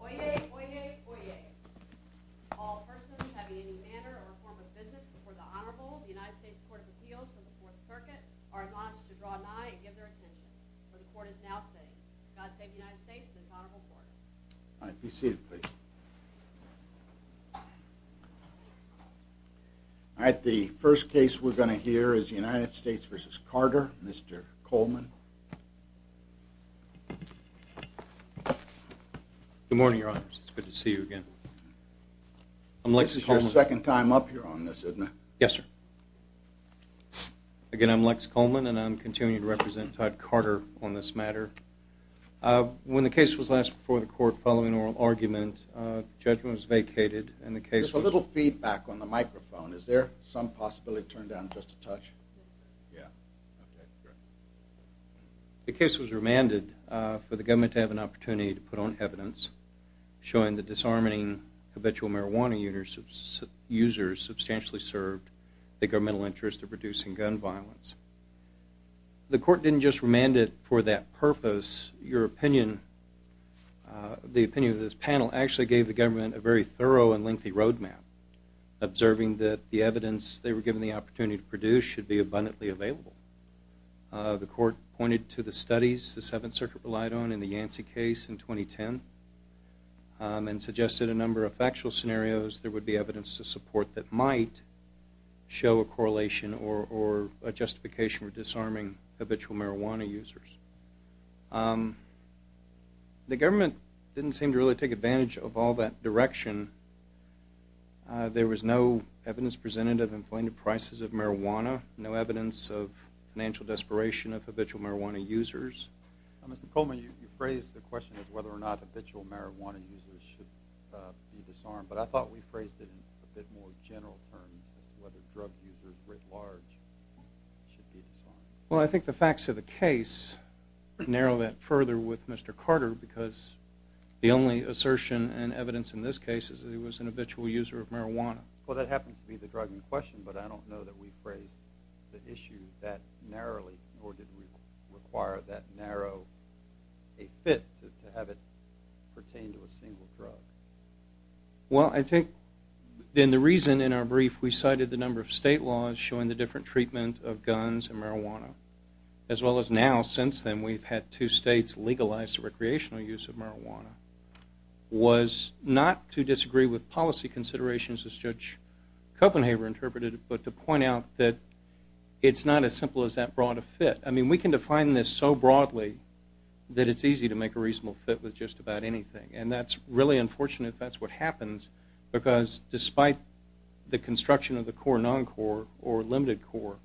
Oyez, oyez, oyez. All persons having any manner or form of business before the Honorable United States Court of Appeals of the Fourth Circuit are admonished to draw an eye and give their attention, for the Court is now sitting. God save the United States and its Honorable Court. All right, be seated, please. All right, the first case we're going to hear is United States v. Carter. Mr. Coleman. Good morning, Your Honors. It's good to see you again. This is your second time up here on this, isn't it? Yes, sir. Again, I'm Lex Coleman, and I'm continuing to represent Todd Carter on this matter. When the case was last before the Court following oral argument, the judgment was vacated, and the case was... Just a little feedback on the microphone. Is there some possibility to turn down just a touch? Yeah. Okay, great. The case was remanded for the government to have an opportunity to put on evidence showing that disarming habitual marijuana users substantially served the governmental interest of reducing gun violence. The Court didn't just remand it for that purpose. Your opinion, the opinion of this panel, actually gave the government a very thorough and lengthy roadmap, observing that the evidence they were given the opportunity to produce should be abundantly available. The Court pointed to the studies the Seventh Circuit relied on in the Yancey case in 2010 and suggested a number of factual scenarios there would be evidence to support that might show a correlation or a justification for disarming habitual marijuana users. The government didn't seem to really take advantage of all that direction. There was no evidence presented of inflated prices of marijuana, no evidence of financial desperation of habitual marijuana users. Mr. Coleman, you phrased the question as whether or not habitual marijuana users should be disarmed, but I thought we phrased it in a bit more general terms as to whether drug users writ large should be disarmed. Well, I think the facts of the case narrow that further with Mr. Carter, because the only assertion and evidence in this case is that he was an habitual user of marijuana. Well, that happens to be the drug in question, but I don't know that we phrased the issue that narrowly, nor did we require that narrow a fit to have it pertain to a single drug. Well, I think then the reason in our brief we cited the number of state laws showing the different treatment of guns and marijuana, as well as now since then we've had two states legalize the recreational use of marijuana, was not to disagree with policy considerations as Judge Copenhaver interpreted it, but to point out that it's not as simple as that broad a fit. I mean, we can define this so broadly that it's easy to make a reasonable fit with just about anything, and that's really unfortunate if that's what happens, because despite the construction of the core non-core or limited core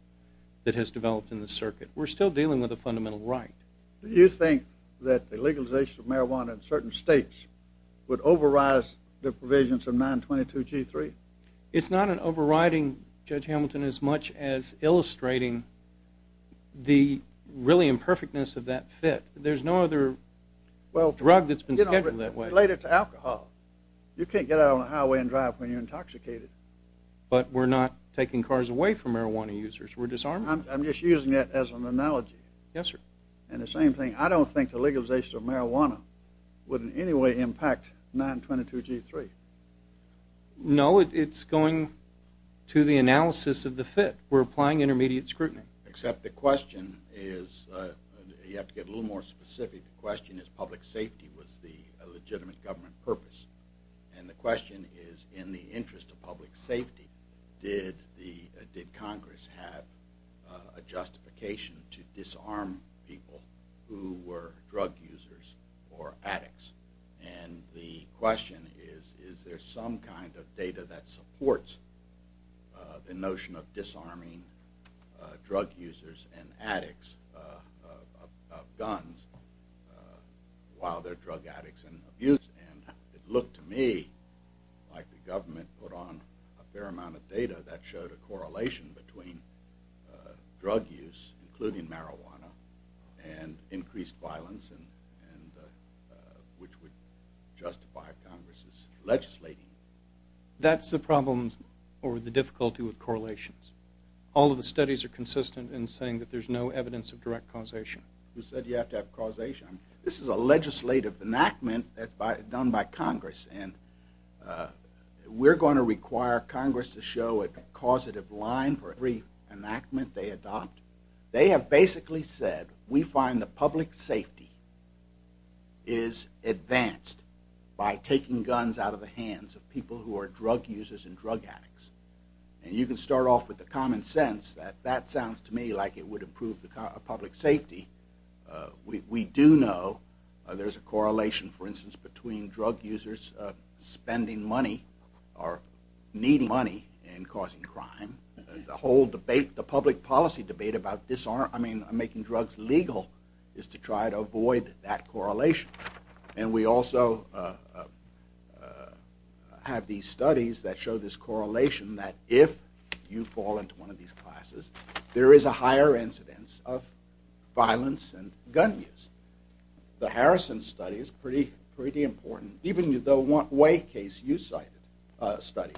that has developed in the circuit, we're still dealing with a fundamental right. Do you think that the legalization of marijuana in certain states would override the provisions of 922G3? It's not an overriding, Judge Hamilton, as much as illustrating the really imperfectness of that fit. There's no other drug that's been scheduled that way. Related to alcohol. You can't get out on the highway and drive when you're intoxicated. But we're not taking cars away from marijuana users. We're disarming them. I'm just using that as an analogy. Yes, sir. And the same thing, I don't think the legalization of marijuana would in any way impact 922G3. No, it's going to the analysis of the fit. We're applying intermediate scrutiny. Except the question is, you have to get a little more specific, the question is public safety was the legitimate government purpose. And the question is, in the interest of public safety, did Congress have a justification to disarm people who were drug users or addicts? And the question is, is there some kind of data that supports the notion of disarming drug users and addicts of guns while they're drug addicts and abusers? And it looked to me like the government put on a fair amount of data that showed a correlation between drug use, including marijuana, and increased violence, which would justify Congress's legislating. That's the problem or the difficulty with correlations. All of the studies are consistent in saying that there's no evidence of direct causation. You said you have to have causation. This is a legislative enactment done by Congress, and we're going to require Congress to show a causative line for every enactment they adopt. They have basically said, we find the public safety is advanced by taking guns out of the hands of people who are drug users and drug addicts. And you can start off with the common sense that that sounds to me like it would improve the public safety. We do know there's a correlation, for instance, between drug users spending money or need money in causing crime. The whole debate, the public policy debate about disarming and making drugs legal is to try to avoid that correlation. And we also have these studies that show this correlation that if you fall into one of these classes, there is a higher incidence of violence and gun use. The Harrison study is pretty important. Even the one case you cited, a study,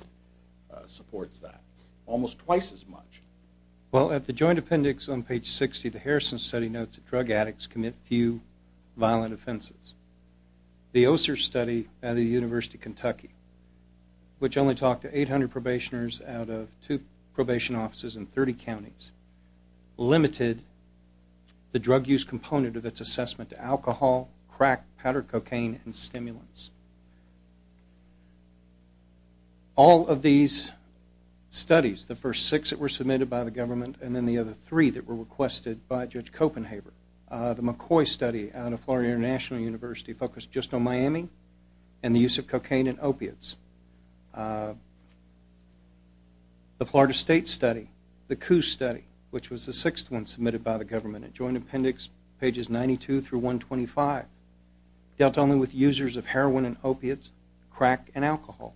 supports that almost twice as much. Well, at the joint appendix on page 60, the Harrison study notes that drug addicts commit few violent offenses. The Oser study at the University of Kentucky, which only talked to 800 probationers out of two probation offices in 30 counties, limited the drug use component of its assessment to alcohol, crack, powder cocaine, and stimulants. All of these studies, the first six that were submitted by the government, and then the other three that were requested by Judge Copenhaver. The McCoy study out of Florida International University focused just on Miami and the use of cocaine and opiates. The Florida State study, the Coos study, which was the sixth one submitted by the government at joint appendix pages 92 through 125, dealt only with users of heroin and opiates, crack, and alcohol.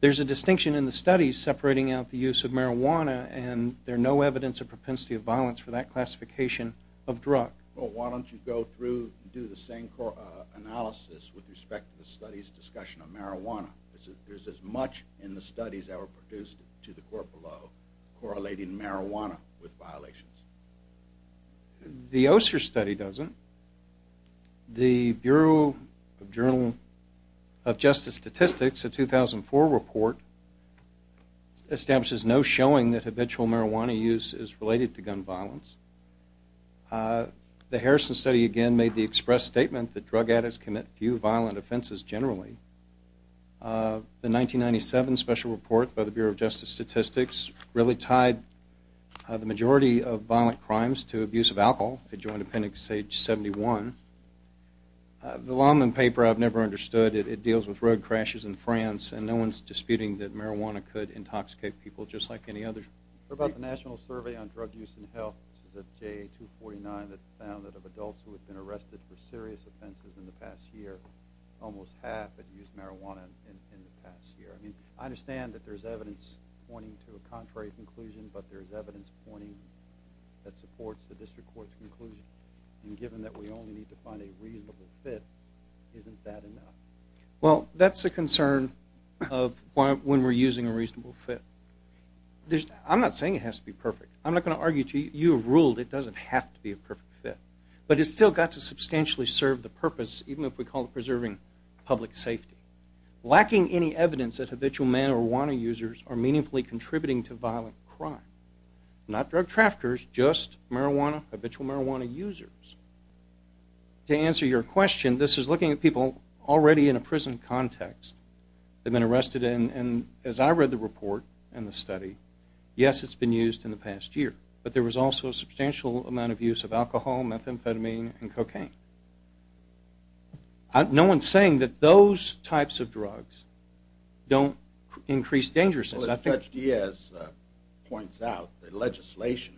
There's a distinction in the studies separating out the use of marijuana, and there's no evidence of propensity of violence for that classification of drug. Well, why don't you go through and do the same analysis with respect to the study's discussion of marijuana? There's as much in the studies that were produced to the court below correlating marijuana with violations. The Oser study doesn't. The Bureau of Justice Statistics, a 2004 report, establishes no showing that habitual marijuana use is related to gun violence. The Harrison study, again, made the express statement that drug addicts commit few violent offenses generally. The 1997 special report by the Bureau of Justice Statistics really tied the majority of violent crimes to abuse of alcohol at joint appendix page 71. The Lahnman paper, I've never understood. It deals with road crashes in France, and no one's disputing that marijuana could intoxicate people just like any other. What about the National Survey on Drug Use and Health, which is a J249 that found that of adults who had been arrested for serious offenses in the past year, almost half had used marijuana in the past year? I mean, I understand that there's evidence pointing to a contrary conclusion, but there's evidence pointing that supports the district court's conclusion. And given that we only need to find a reasonable fit, isn't that enough? Well, that's the concern of when we're using a reasonable fit. I'm not saying it has to be perfect. I'm not going to argue to you. You have ruled it doesn't have to be a perfect fit. But it's still got to substantially serve the purpose, even if we call it preserving public safety. Lacking any evidence that habitual marijuana users are meaningfully contributing to violent crime. Not drug traffickers, just marijuana, habitual marijuana users. To answer your question, this is looking at people already in a prison context. They've been arrested, and as I read the report and the study, yes, it's been used in the past year. But there was also a substantial amount of use of alcohol, methamphetamine, and cocaine. No one's saying that those types of drugs don't increase danger. Judge Diaz points out that legislation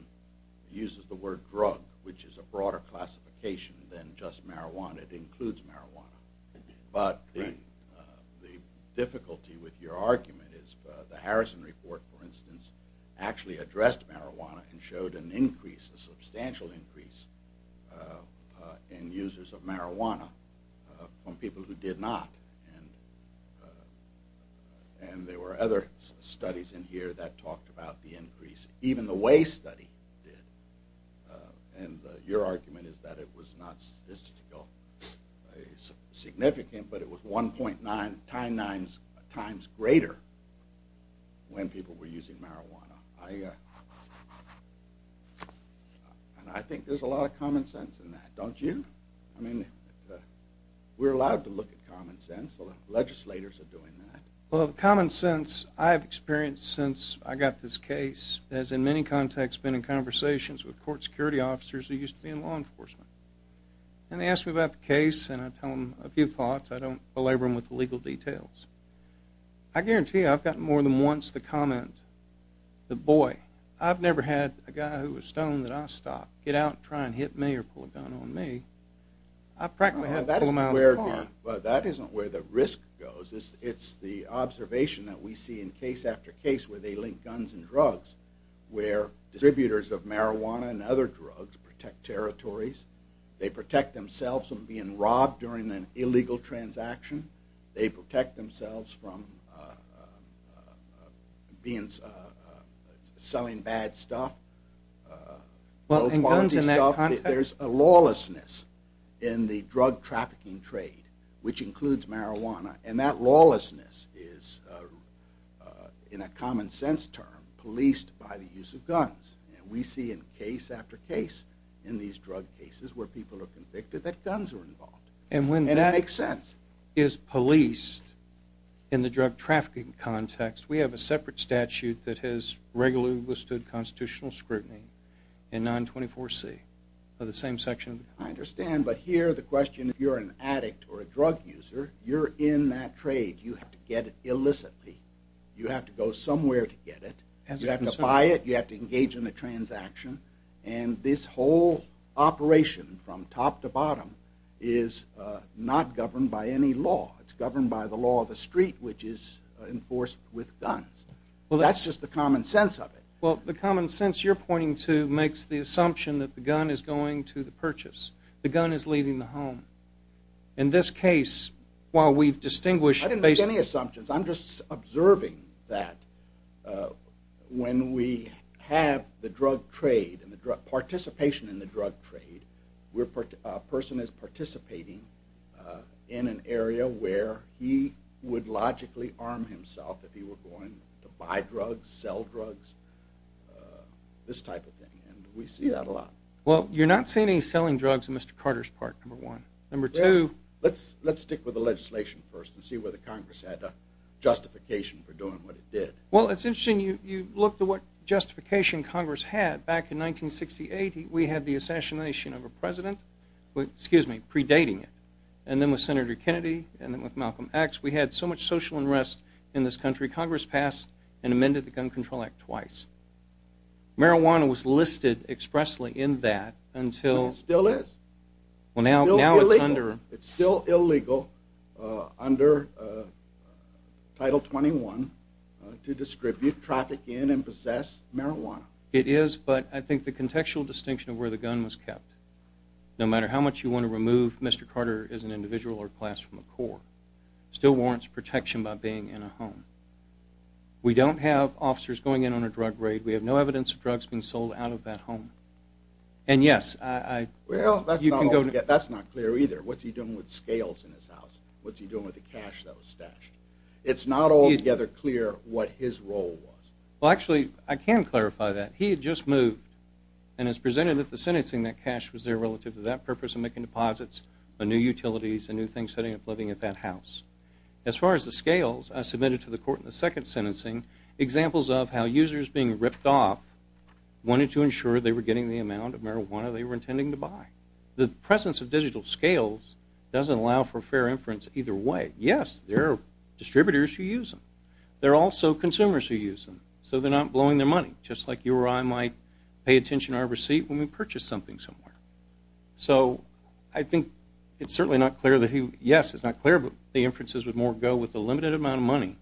uses the word drug, which is a broader classification than just marijuana. It includes marijuana. But the difficulty with your argument is the Harrison report, for instance, actually addressed marijuana and showed an increase, a substantial increase, in users of marijuana from people who did not. And there were other studies in here that talked about the increase, even the Way study did. And your argument is that it was not statistically significant, but it was 1.9 times greater when people were using marijuana. And I think there's a lot of common sense in that, don't you? I mean, we're allowed to look at common sense, legislators are doing that. Well, the common sense I've experienced since I got this case has in many contexts been in conversations with court security officers who used to be in law enforcement. And they ask me about the case, and I tell them a few thoughts. I don't belabor them with the legal details. I guarantee you I've gotten more than once the comment, the boy, I've never had a guy who was stoned that I stopped, get out and try and hit me or pull a gun on me. I've practically had to pull him out of the car. Well, that isn't where the risk goes. It's the observation that we see in case after case where they link guns and drugs, where distributors of marijuana and other drugs protect territories. They protect themselves from being robbed during an illegal transaction. They protect themselves from selling bad stuff, low-quality stuff. There's a lawlessness in the drug trafficking trade, which includes marijuana. And that lawlessness is, in a common sense term, policed by the use of guns. And we see in case after case in these drug cases where people are convicted that guns are involved. And that makes sense. And when that is policed in the drug trafficking context, we have a separate statute that has regularly withstood constitutional scrutiny in 924C of the same section. I understand, but here the question is if you're an addict or a drug user, you're in that trade. You have to get it illicitly. You have to go somewhere to get it. You have to buy it. You have to engage in a transaction. And this whole operation from top to bottom is not governed by any law. It's governed by the law of the street, which is enforced with guns. That's just the common sense of it. Well, the common sense you're pointing to makes the assumption that the gun is going to the purchase. The gun is leaving the home. In this case, while we've distinguished any assumptions, I'm just observing that when we have the drug trade and the participation in the drug trade, a person is participating in an area where he would logically arm himself if he were going to buy drugs, sell drugs, this type of thing. And we see that a lot. Well, you're not seeing any selling drugs in Mr. Carter's park, number one. Number two. Let's stick with the legislation first and see whether Congress had a justification for doing what it did. Well, it's interesting. You look at what justification Congress had. Back in 1968, we had the assassination of a president predating it. And then with Senator Kennedy and then with Malcolm X, we had so much social unrest in this country, Congress passed and amended the Gun Control Act twice. Marijuana was listed expressly in that until... It still is. Well, now it's under... It's still illegal under Title 21 to distribute, traffic in, and possess marijuana. It is, but I think the contextual distinction of where the gun was kept, no matter how much you want to remove Mr. Carter as an individual or class from the Corps, still warrants protection by being in a home. We don't have officers going in on a drug raid. We have no evidence of drugs being sold out of that home. And, yes, I... Well, that's not clear either. What's he doing with scales in his house? What's he doing with the cash that was stashed? It's not altogether clear what his role was. Well, actually, I can clarify that. He had just moved and has presented with the sentencing that cash was there relative to that purpose of making deposits on new utilities and new things setting up living at that house. As far as the scales, I submitted to the court in the second sentencing examples of how users being ripped off wanted to ensure they were getting the amount of marijuana they were intending to buy. The presence of digital scales doesn't allow for fair inference either way. Yes, there are distributors who use them. There are also consumers who use them, so they're not blowing their money, just like you or I might pay attention to our receipt when we purchase something somewhere. So I think it's certainly not clear that he... that his inferences would more go with the limited amount of money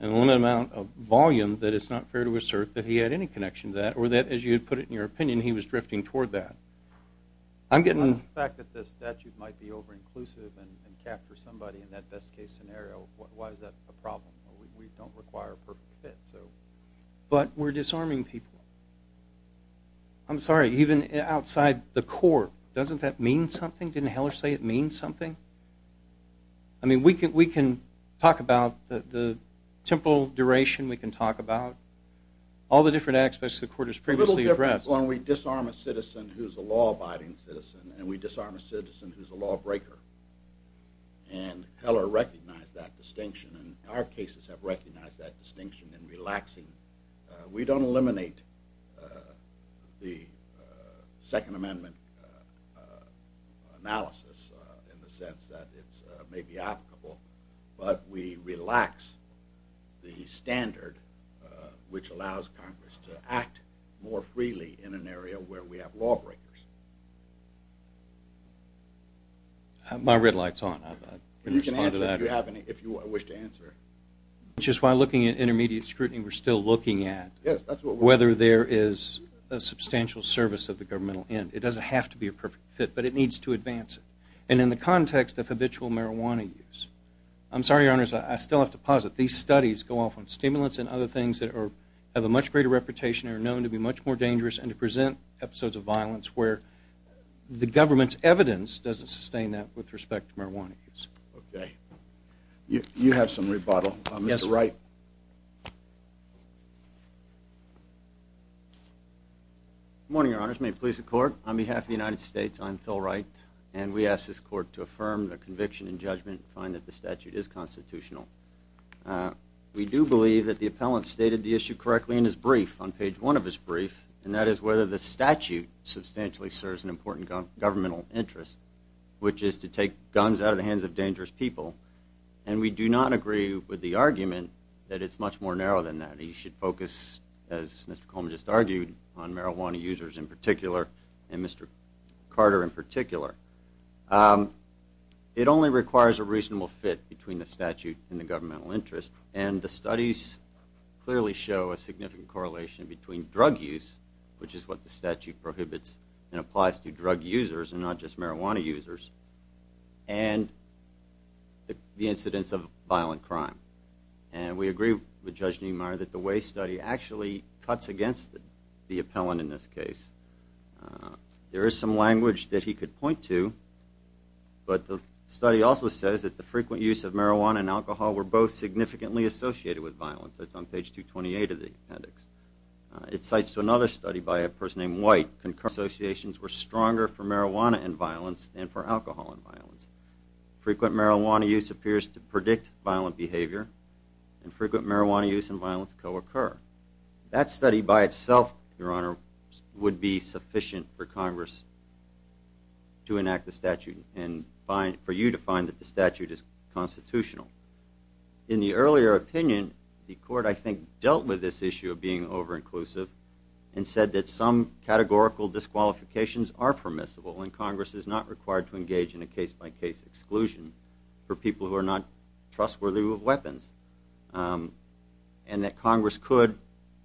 and the limited amount of volume that it's not fair to assert that he had any connection to that or that, as you put it in your opinion, he was drifting toward that. The fact that this statute might be over-inclusive and capture somebody in that best-case scenario, why is that a problem? We don't require a perfect fit. But we're disarming people. I'm sorry, even outside the court, doesn't that mean something? Didn't Heller say it means something? I mean, we can talk about the temporal duration. We can talk about all the different aspects the court has previously addressed. Well, we disarm a citizen who's a law-abiding citizen, and we disarm a citizen who's a lawbreaker. And Heller recognized that distinction, and our cases have recognized that distinction in relaxing. We don't eliminate the Second Amendment analysis in the sense that it may be applicable, but we relax the standard which allows Congress to act more freely in an area where we have lawbreakers. My red light's on. You can answer if you wish to answer. Just while looking at intermediate scrutiny, we're still looking at whether there is a substantial service of the governmental end. It doesn't have to be a perfect fit, but it needs to advance it. And in the context of habitual marijuana use, I'm sorry, Your Honors, I still have to posit. These studies go off on stimulants and other things that have a much greater reputation and are known to be much more dangerous and to present episodes of violence where the government's evidence doesn't sustain that with respect to marijuana use. Okay. You have some rebuttal. Mr. Wright. Good morning, Your Honors. May it please the Court. On behalf of the United States, I'm Phil Wright, and we ask this Court to affirm the conviction and judgment and find that the statute is constitutional. We do believe that the appellant stated the issue correctly in his brief, on page 1 of his brief, and that is whether the statute substantially serves an important governmental interest, which is to take guns out of the hands of dangerous people. And we do not agree with the argument that it's much more narrow than that. You should focus, as Mr. Coleman just argued, on marijuana users in particular and Mr. Carter in particular. It only requires a reasonable fit between the statute and the governmental interest, and the studies clearly show a significant correlation between drug use, which is what the statute prohibits and applies to drug users and not just marijuana users, and the incidence of violent crime. And we agree with Judge Niemeyer that the Way study actually cuts against the appellant in this case. There is some language that he could point to, but the study also says that the frequent use of marijuana and alcohol were both significantly associated with violence. That's on page 228 of the appendix. It cites another study by a person named White. Concurrent associations were stronger for marijuana and violence than for alcohol and violence. Frequent marijuana use appears to predict violent behavior, and frequent marijuana use and violence co-occur. That study by itself, Your Honor, would be sufficient for Congress to enact the statute and for you to find that the statute is constitutional. In the earlier opinion, the court, I think, dealt with this issue of being over-inclusive and said that some categorical disqualifications are permissible and Congress is not required to engage in a case-by-case exclusion for people who are not trustworthy with weapons, and that Congress could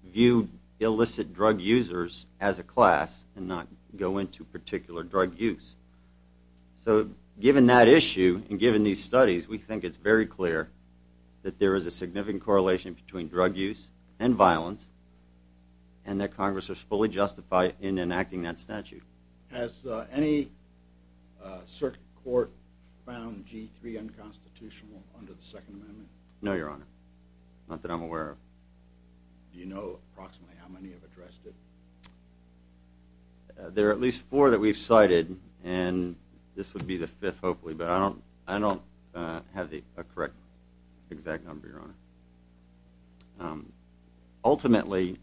view illicit drug users as a class and not go into particular drug use. So given that issue and given these studies, we think it's very clear that there is a significant correlation between drug use and violence and that Congress is fully justified in enacting that statute. Has any circuit court found G3 unconstitutional under the Second Amendment? No, Your Honor. Not that I'm aware of. Do you know approximately how many have addressed it? There are at least four that we've cited, and this would be the fifth, hopefully, but I don't have a correct exact number, Your Honor. Ultimately,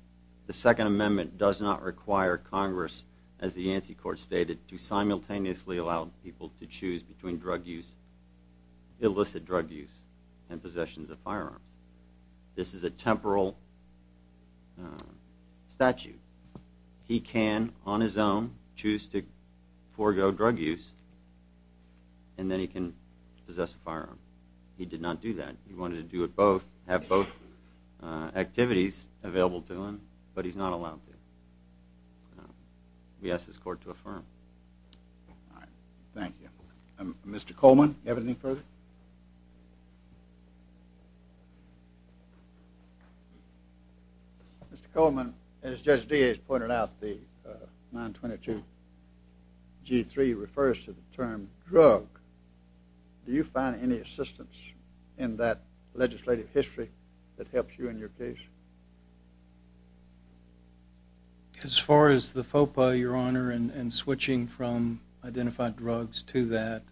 the Second Amendment does not require Congress, as the ANSI Court stated, to simultaneously allow people to choose between illicit drug use and possessions of firearms. This is a temporal statute. He can, on his own, choose to forego drug use and then he can possess a firearm. He did not do that. He wanted to do it both, have both activities available to him, but he's not allowed to. We ask this Court to affirm. All right. Thank you. Mr. Coleman, do you have anything further? Mr. Coleman, as Judge Diaz pointed out, the 922 G3 refers to the term drug. Do you find any assistance in that legislative history that helps you in your case? As far as the FOPA, Your Honor, and switching from identified drugs to that,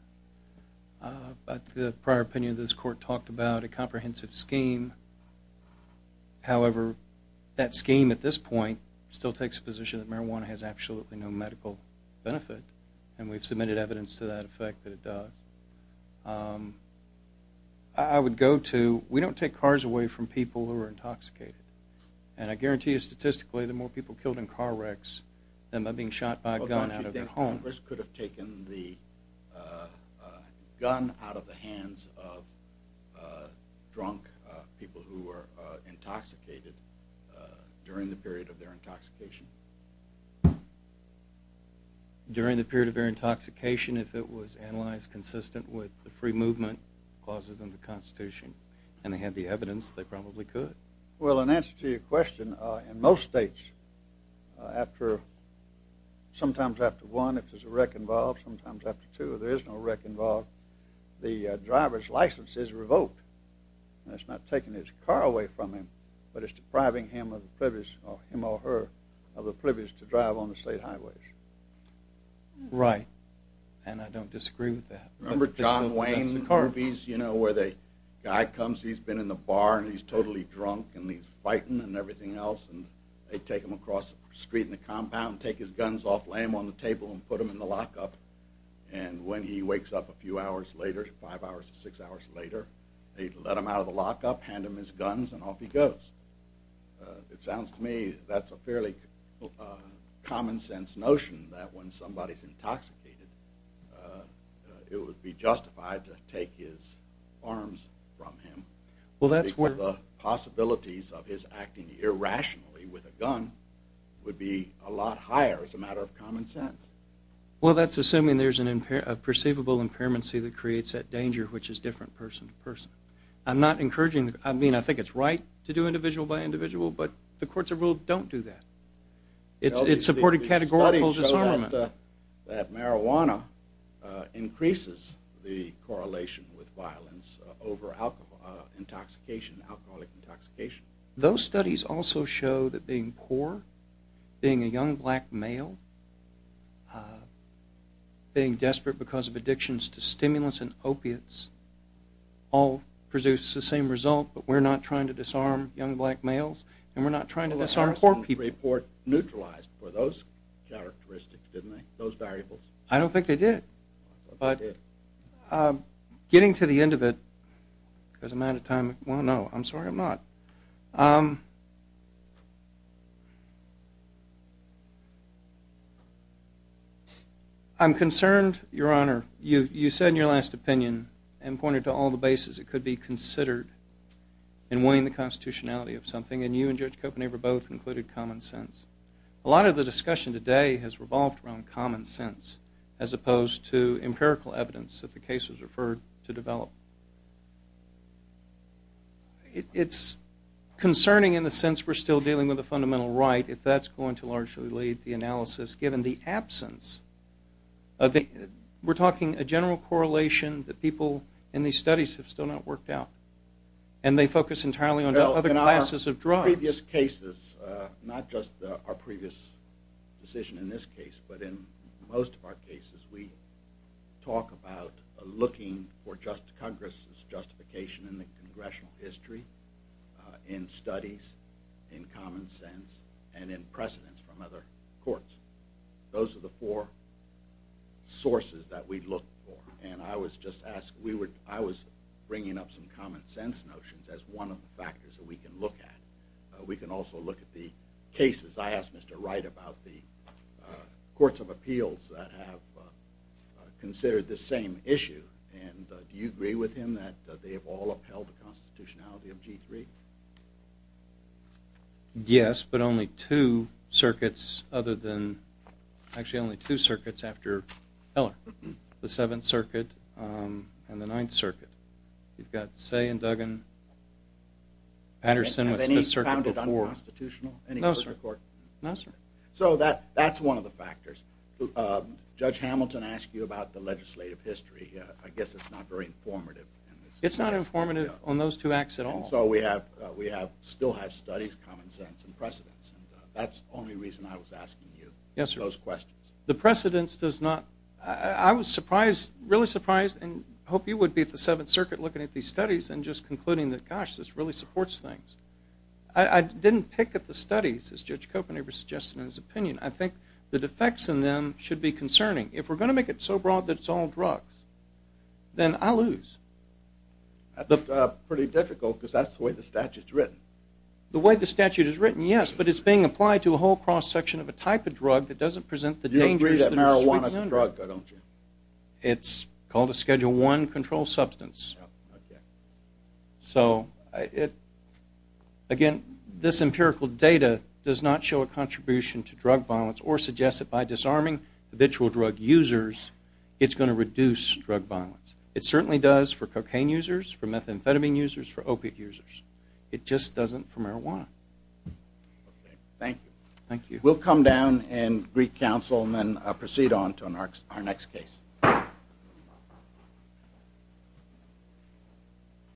the prior opinion of this Court talked about a comprehensive scheme. However, that scheme at this point still takes the position that marijuana has absolutely no medical benefit, and we've submitted evidence to that effect that it does. I would go to we don't take cars away from people who are intoxicated, and I guarantee you statistically the more people killed in car wrecks than by being shot by a gun out of their home. Well, don't you think Congress could have taken the gun out of the hands of drunk people who were intoxicated during the period of their intoxication? During the period of their intoxication, if it was analyzed consistent with the free movement clauses in the Constitution, and they had the evidence, they probably could. Well, in answer to your question, in most states, sometimes after one, if there's a wreck involved, sometimes after two, if there is no wreck involved, the driver's license is revoked. That's not taking his car away from him, but it's depriving him or her of the privilege to drive on the state highways. Right, and I don't disagree with that. Remember John Wayne movies, you know, where the guy comes, he's been in the bar, and he's totally drunk, and he's fighting and everything else, and they take him across the street in the compound, take his guns off, lay him on the table, and put him in the lockup, and when he wakes up a few hours later, five hours or six hours later, they let him out of the lockup, hand him his guns, and off he goes. It sounds to me that's a fairly common-sense notion that when somebody's intoxicated, it would be justified to take his arms from him. Well, that's where... Because the possibilities of his acting irrationally with a gun would be a lot higher as a matter of common sense. Well, that's assuming there's a perceivable impairment that creates that danger, which is different person to person. I'm not encouraging, I mean, I think it's right to do individual by individual, but the courts of rule don't do that. It's supported categorical disarmament. That marijuana increases the correlation with violence over intoxication, alcoholic intoxication. Those studies also show that being poor, being a young black male, being desperate because of addictions to stimulants and opiates, all produce the same result, but we're not trying to disarm young black males, and we're not trying to disarm poor people. Well, they also report neutralized for those characteristics, didn't they, those variables? I don't think they did, but getting to the end of it, because I'm out of time. Well, no, I'm sorry I'm not. I'm concerned, Your Honor, you said in your last opinion and pointed to all the bases it could be considered in winning the constitutionality of something, and you and Judge Kopenhaver both included common sense. A lot of the discussion today has revolved around common sense as opposed to empirical evidence that the case was referred to develop. It's concerning in the sense we're still dealing with a fundamental right, if that's going to largely lead the analysis, given the absence of the, we're talking a general correlation that people in these studies have still not worked out, and they focus entirely on other classes of drugs. In our previous cases, not just our previous decision in this case, but in most of our cases, we talk about looking for just Congress's justification in the congressional history, in studies, in common sense, and in precedence from other courts. Those are the four sources that we look for, and I was just asked, I was bringing up some common sense notions as one of the factors that we can look at. We can also look at the cases. I asked Mr. Wright about the courts of appeals that have considered this same issue, and do you agree with him that they have all upheld the constitutionality of G3? Yes, but only two circuits other than, actually only two circuits after Heller, the Seventh Circuit and the Ninth Circuit. You've got Say and Duggan, Patterson with Fifth Circuit before. No, sir. So that's one of the factors. Judge Hamilton asked you about the legislative history. I guess it's not very informative. It's not informative on those two acts at all. So we still have studies, common sense, and precedence, and that's the only reason I was asking you those questions. Yes, sir. The precedence does not. I was surprised, really surprised, and I hope you would be at the Seventh Circuit looking at these studies and just concluding that, gosh, this really supports things. I didn't pick at the studies, as Judge Copenhaver suggested in his opinion. I think the defects in them should be concerning. If we're going to make it so broad that it's all drugs, then I'll lose. That's pretty difficult because that's the way the statute's written. The way the statute is written, yes, but it's being applied to a whole cross-section of a type of drug that doesn't present the dangers that are sweeping under. You agree that marijuana's a drug, though, don't you? It's called a Schedule I controlled substance. So, again, this empirical data does not show a contribution to drug violence or suggest that by disarming habitual drug users, it's going to reduce drug violence. It certainly does for cocaine users, for methamphetamine users, for opiate users. It just doesn't for marijuana. Thank you. Thank you. We'll come down and greet counsel and then proceed on to our next case.